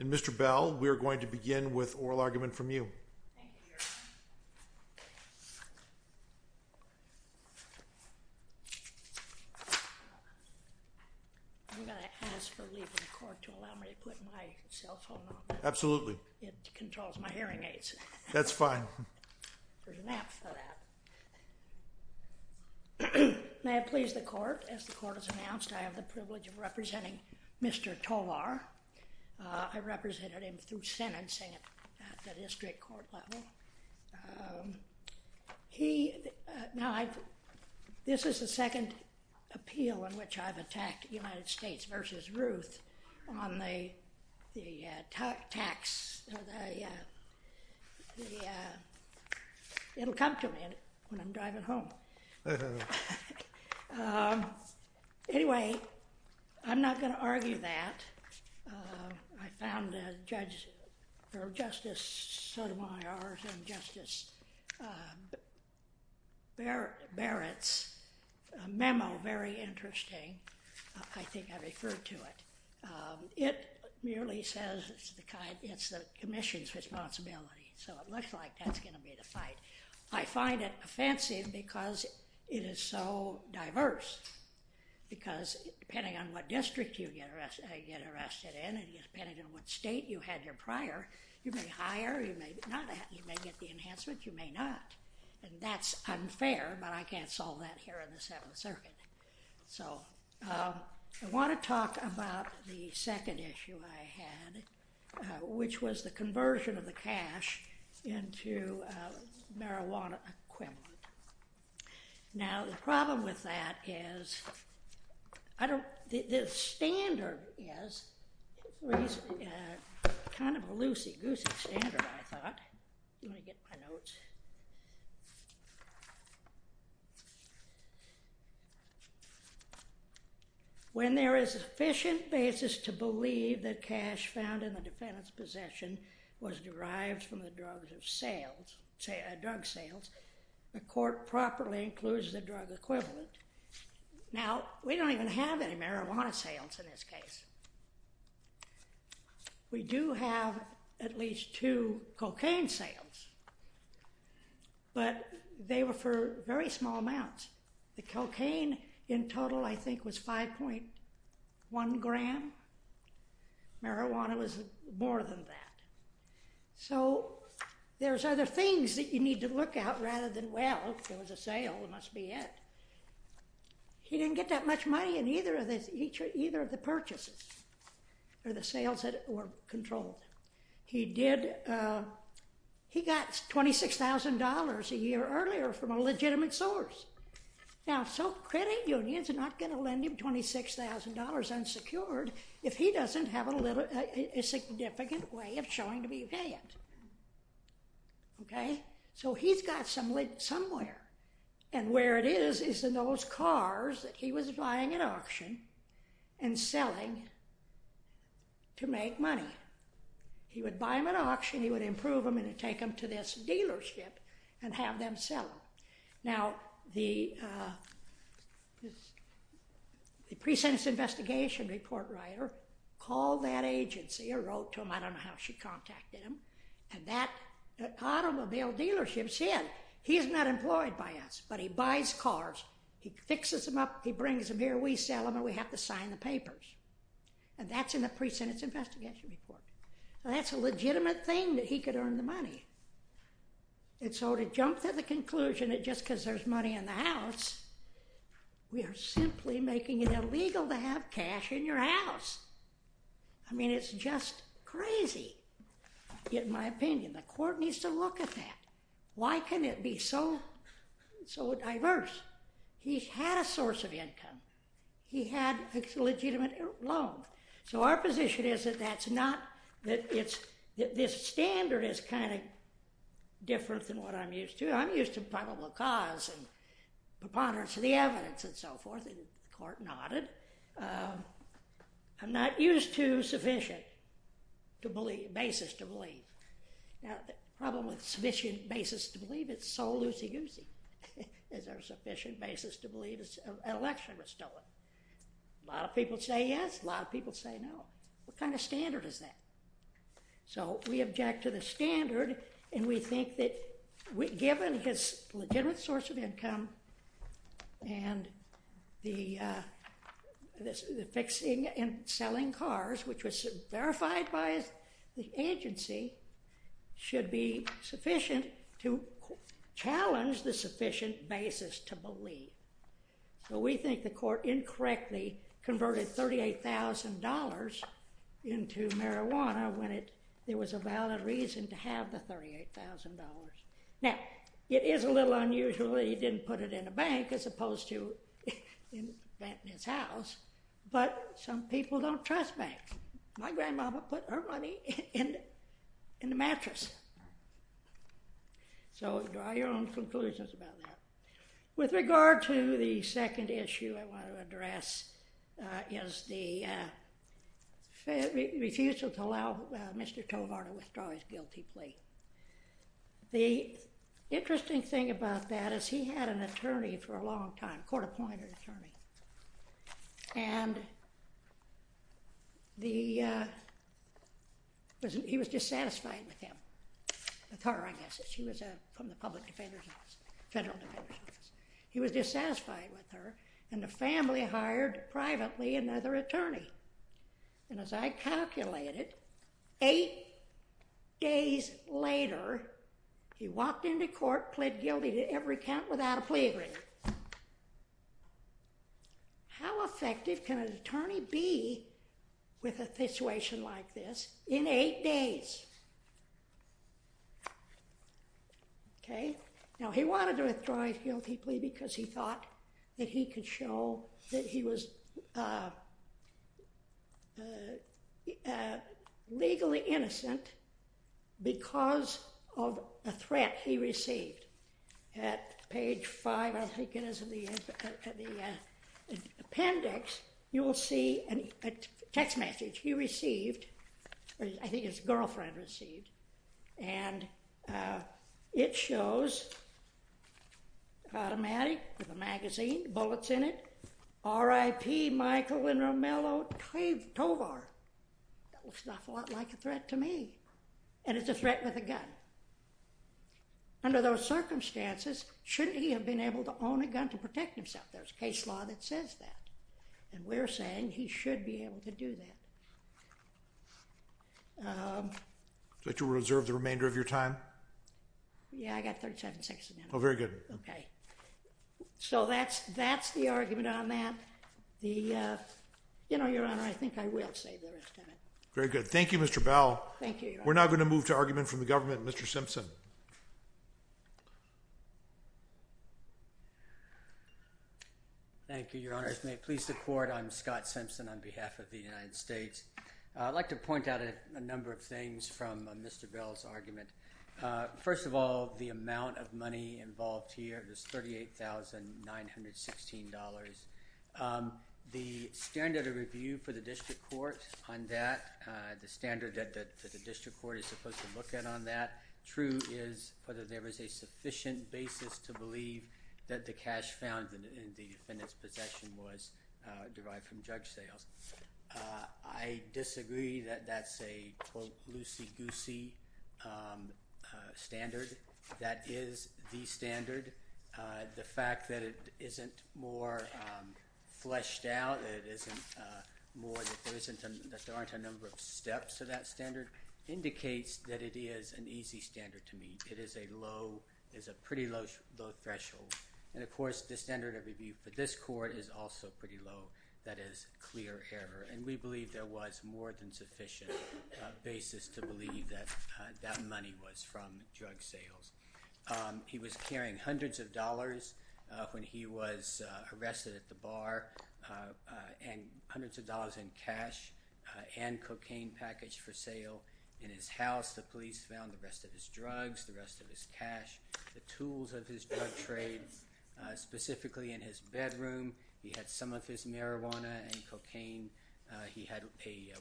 Mr. Bell, we are going to begin with an oral argument from you. I'm going to ask for leave of the court to allow me to put my cell phone on. Absolutely. It controls my hearing aids. That's fine. There's an app for that. May I please the court? As the court has announced, I have the privilege of representing Mr. Tovar. That's fine. There's an app for that. May I please the court? As the court has announced, I have the privilege of representing Mr. Tovar. May I please the court? That's fine. Thank you. Be seated. Your Honor, Justice Barrett's memo, very interesting. I think I referred to it. It merely says it's the commission's responsibility. So it looks like that's going to be the fight. I find it offensive because it is so diverse. Because depending on what district you get arrested in and depending on what state you had your prior, you may hire, you may not, you may get the enhancement, you may not. And that's unfair, but I can't solve that here in the Seventh Circuit. So, I want to talk about the second issue I had, which was the conversion of the cash into marijuana equipment. Now, the problem with that is, the standard is kind of a loosey-goosey standard, I thought. Let me get my notes. When there is sufficient basis to believe that cash found in the defendant's possession was derived from the drug sales, the court properly includes the drug equivalent. Now, we don't even have any marijuana sales in this case. We do have at least two cocaine sales, but they were for very small amounts. The cocaine in total, I think, was 5.1 gram. Marijuana was more than that. So, there's other things that you need to look at rather than, well, if it was a sale, it must be it. He didn't get that much money in either of the purchases, or the sales that were controlled. He did, he got $26,000 a year earlier from a legitimate source. Now, so credit unions are not going to lend him $26,000 unsecured if he doesn't have a significant way of showing to be paid. Okay? So, he's got somewhere, and where it is is in those cars that he was buying at auction and selling to make money. He would buy them at auction, he would improve them, and he'd take them to this dealership and have them sell them. Now, the pre-sentence investigation report writer called that agency or wrote to him, I don't know how she contacted him, and that automobile dealership said, he is not employed by us, but he buys cars, he fixes them up, he brings them here, we sell them, and we have to sign the papers. And that's in the pre-sentence investigation report. That's a legitimate thing that he could earn the money. And so, to jump to the conclusion that just because there's money in the house, we are simply making it illegal to have cash in your house. I mean, it's just crazy, in my opinion. The court needs to look at that. Why can it be so diverse? He had a source of income. He had a legitimate loan. So, our position is that that's not, that this standard is kind of different than what I'm used to. I'm used to probable cause and preponderance of the evidence and so forth, and the court nodded. I'm not used to sufficient basis to believe. Now, the problem with sufficient basis to believe, it's so loosey-goosey. Is there a sufficient basis to believe an election was stolen? A lot of people say yes, a lot of people say no. What kind of standard is that? So, we object to the standard, and we think that given his legitimate source of income and the fixing and selling cars, which was verified by the agency, should be sufficient to challenge the sufficient basis to believe. So, we think the court incorrectly converted $38,000 into marijuana when there was a valid reason to have the $38,000. Now, it is a little unusual that he didn't put it in a bank as opposed to in his house, but some people don't trust banks. My grandmama put her money in the mattress. So, draw your own conclusions about that. With regard to the second issue I want to address is the refusal to allow Mr. Tovar to withdraw his guilty plea. The interesting thing about that is he had an attorney for a long time, court-appointed attorney, and he was dissatisfied with him, with her, I guess. She was from the public defender's office, federal defender's office. He was dissatisfied with her, and the family hired privately another attorney. And as I calculated, eight days later, he walked into court, pled guilty to every count without a plea agreement. How effective can an attorney be with a situation like this in eight days? Okay? Now, he wanted to withdraw his guilty plea because he thought that he could show that he was legally innocent because of a threat he received. At page five, I think it is, of the appendix, you will see a text message he received, or I think his girlfriend received, and it shows, automatic, with a magazine, bullets in it, R.I.P. Michael and Romello Tovar. That looks an awful lot like a threat to me, and it's a threat with a gun. Under those circumstances, shouldn't he have been able to own a gun to protect himself? There's a case law that says that, and we're saying he should be able to do that. Would you like to reserve the remainder of your time? Yeah, I got 37 seconds. Oh, very good. Okay. So that's the argument on that. You know, Your Honor, I think I will save the rest of it. Very good. Thank you, Mr. Bell. Thank you, Your Honor. We're now going to move to argument from the government. Mr. Simpson. Thank you, Your Honor. As may it please the Court, I'm Scott Simpson on behalf of the United States. I'd like to point out a number of things from Mr. Bell's argument. First of all, the amount of money involved here is $38,916. The standard of review for the district court on that, the standard that the district court is supposed to look at on that, true is whether there was a sufficient basis to believe that the cash found in the defendant's possession was derived from judge sales. I disagree that that's a, quote, loosey-goosey standard. That is the standard. The fact that it isn't more fleshed out, that there aren't a number of steps to that standard, indicates that it is an easy standard to meet. It is a pretty low threshold. Of course, the standard of review for this court is also pretty low. That is clear error. We believe there was more than sufficient basis to believe that that money was from drug sales. He was carrying hundreds of dollars when he was arrested at the bar, and hundreds of dollars in cash and cocaine packaged for sale in his house. The police found the rest of his drugs, the rest of his cash, the tools of his drug trade, specifically in his bedroom. He had some of his marijuana and cocaine. He had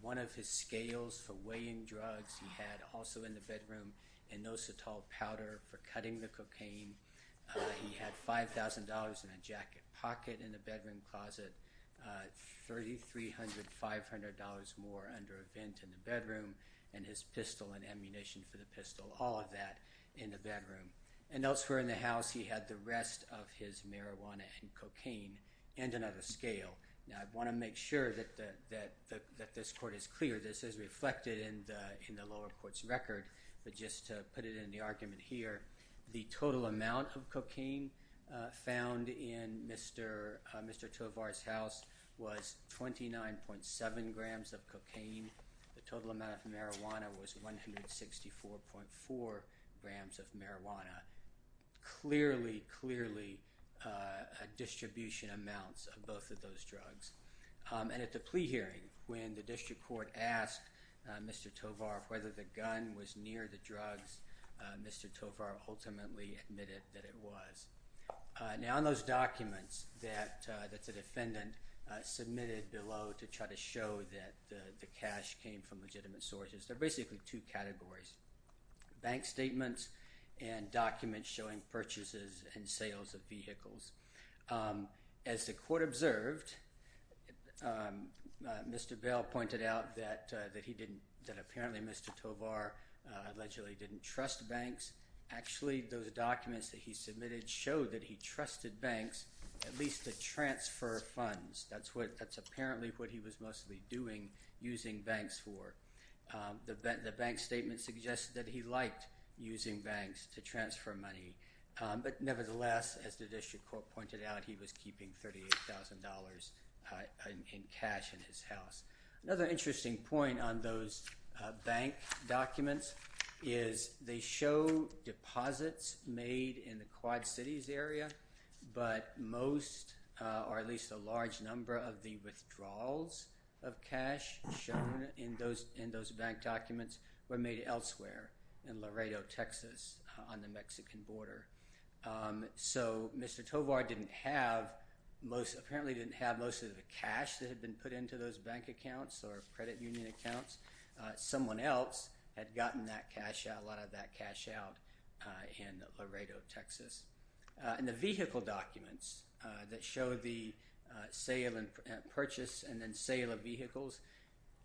one of his scales for weighing drugs. He had also in the bedroom inositol powder for cutting the cocaine. He had $5,000 in a jacket pocket in the bedroom closet, $3,300, $500 more under a vent in the bedroom, and his pistol and ammunition for the pistol, all of that in the bedroom. Elsewhere in the house he had the rest of his marijuana and cocaine and another scale. I want to make sure that this court is clear. This is reflected in the lower court's record, but just to put it in the argument here, the total amount of cocaine found in Mr. Tovar's house was 29.7 grams of cocaine. The total amount of marijuana was 164.4 grams of marijuana. Clearly, clearly distribution amounts of both of those drugs. And at the plea hearing, when the district court asked Mr. Tovar whether the gun was near the drugs, Mr. Tovar ultimately admitted that it was. Now in those documents that the defendant submitted below to try to show that the cash came from legitimate sources, there are basically two categories, bank statements and documents showing purchases and sales of vehicles. As the court observed, Mr. Bell pointed out that apparently Mr. Tovar allegedly didn't trust banks. Actually, those documents that he submitted showed that he trusted banks at least to transfer funds. That's apparently what he was mostly doing, using banks for. The bank statement suggested that he liked using banks to transfer money, but nevertheless, as the district court pointed out, he was keeping $38,000 in cash in his house. Another interesting point on those bank documents is they show deposits made in the Quad Cities area, but most or at least a large number of the withdrawals of cash shown in those bank documents were made elsewhere in Laredo, Texas on the Mexican border. So Mr. Tovar didn't have most of the cash that had been put into those bank accounts or credit union accounts. Someone else had gotten a lot of that cash out in Laredo, Texas. In the vehicle documents that show the sale and purchase and then sale of vehicles,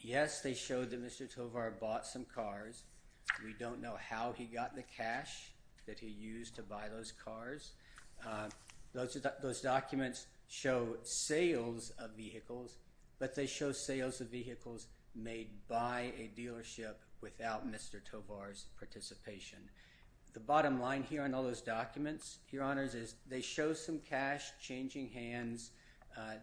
yes, they showed that Mr. Tovar bought some cars. We don't know how he got the cash that he used to buy those cars. Those documents show sales of vehicles, but they show sales of vehicles made by a dealership without Mr. Tovar's participation. The bottom line here on all those documents, Your Honors, is they show some cash changing hands.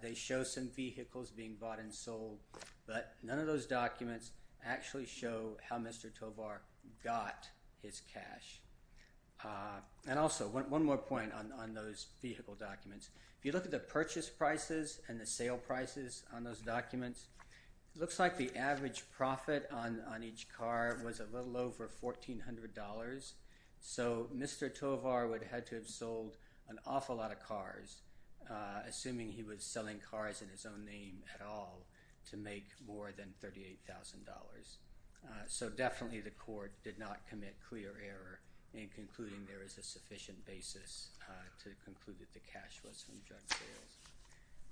They show some vehicles being bought and sold, but none of those documents actually show how Mr. Tovar got his cash. And also, one more point on those vehicle documents. If you look at the purchase prices and the sale prices on those documents, it looks like the average profit on each car was a little over $1,400. So Mr. Tovar would have had to have sold an awful lot of cars, assuming he was selling cars in his own name at all, to make more than $38,000. So definitely the court did not commit clear error in concluding there is a sufficient basis to conclude that the cash was from drug sales.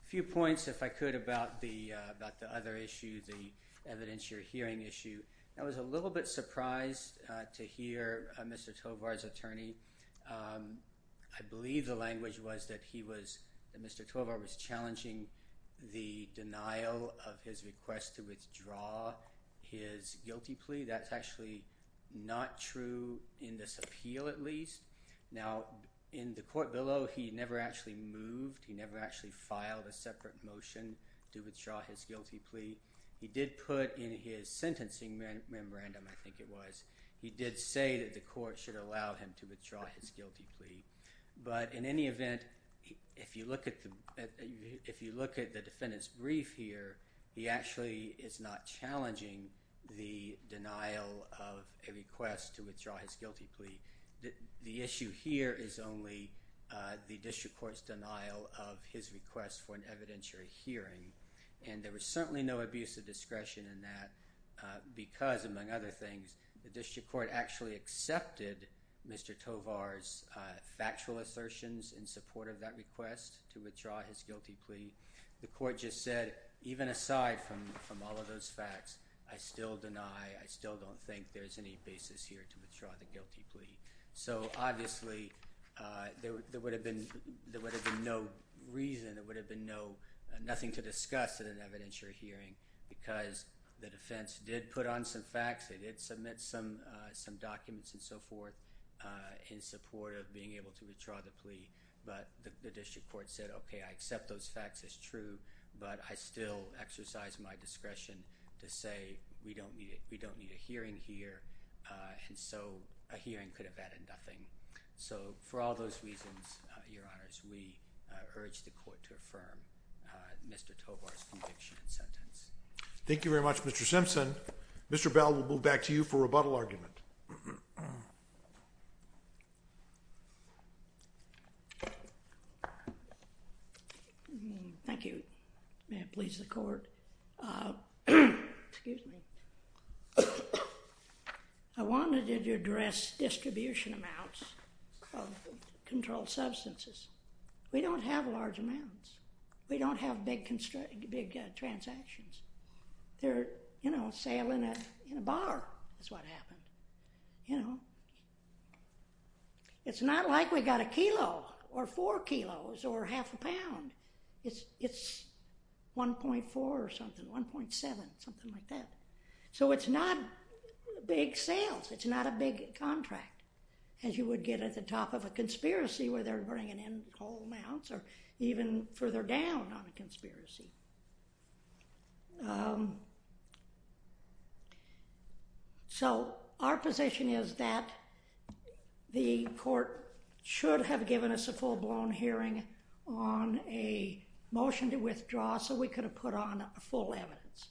A few points, if I could, about the other issue, the evidence you're hearing issue. I was a little bit surprised to hear Mr. Tovar's attorney. I believe the language was that Mr. Tovar was challenging the denial of his request to withdraw his guilty plea. That's actually not true in this appeal, at least. Now, in the court below, he never actually moved. He never actually filed a separate motion to withdraw his guilty plea. He did put in his sentencing memorandum, I think it was, he did say that the court should allow him to withdraw his guilty plea. But in any event, if you look at the defendant's brief here, he actually is not challenging the denial of a request to withdraw his guilty plea. The issue here is only the district court's denial of his request for an evidentiary hearing. And there was certainly no abuse of discretion in that because, among other things, the district court actually accepted Mr. Tovar's factual assertions in support of that request to withdraw his guilty plea. The court just said, even aside from all of those facts, I still deny, I still don't think there's any basis here to withdraw the guilty plea. So, obviously, there would have been no reason, there would have been nothing to discuss in an evidentiary hearing because the defense did put on some facts, they did submit some documents and so forth in support of being able to withdraw the plea. But the district court said, okay, I accept those facts as true, but I still exercise my discretion to say we don't need a hearing here. And so a hearing could have added nothing. So, for all those reasons, Your Honors, we urge the court to affirm Mr. Tovar's conviction and sentence. Thank you very much, Mr. Simpson. Mr. Bell, we'll move back to you for rebuttal argument. Thank you. May it please the court. Excuse me. I wanted to address distribution amounts of controlled substances. We don't have large amounts. We don't have big transactions. You know, a sale in a bar is what happened, you know. It's not like we got a kilo or four kilos or half a pound. It's 1.4 or something, 1.7, something like that. So it's not big sales, it's not a big contract, as you would get at the top of a conspiracy where they're bringing in whole amounts or even further down on a conspiracy. So our position is that the court should have given us a full-blown hearing on a motion to withdraw so we could have put on full evidence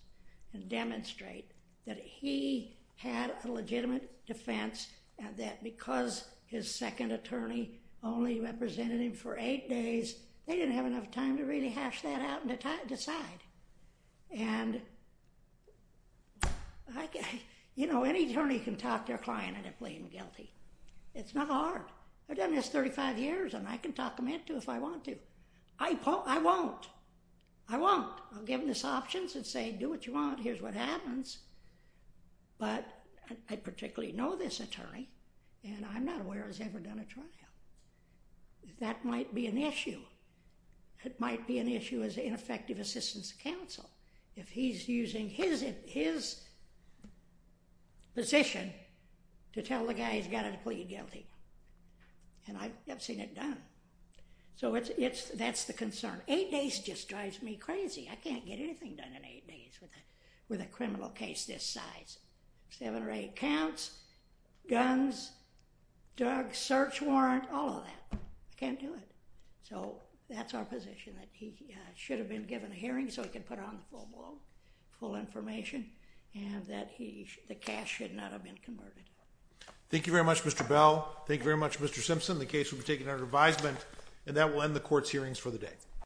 and demonstrate that he had a legitimate defense and that because his second attorney only represented him for eight days, they didn't have enough time to really hash that out and decide. And, you know, any attorney can talk their client into pleading guilty. It's not hard. They've done this 35 years, and I can talk them into it if I want to. I won't. I won't. I'll give them these options and say, do what you want, here's what happens. But I particularly know this attorney, and I'm not aware he's ever done a trial. That might be an issue. It might be an issue as an ineffective assistance counsel if he's using his position to tell the guy he's got to plead guilty. And I've seen it done. So that's the concern. Eight days just drives me crazy. I can't get anything done in eight days with a criminal case this size. Seven or eight counts, guns, drug search warrant, all of that. I can't do it. So that's our position, that he should have been given a hearing so he could put on the full information and that the cash should not have been converted. Thank you very much, Mr. Bell. Thank you very much, Mr. Simpson. The case will be taken under advisement, and that will end the court's hearings for the day.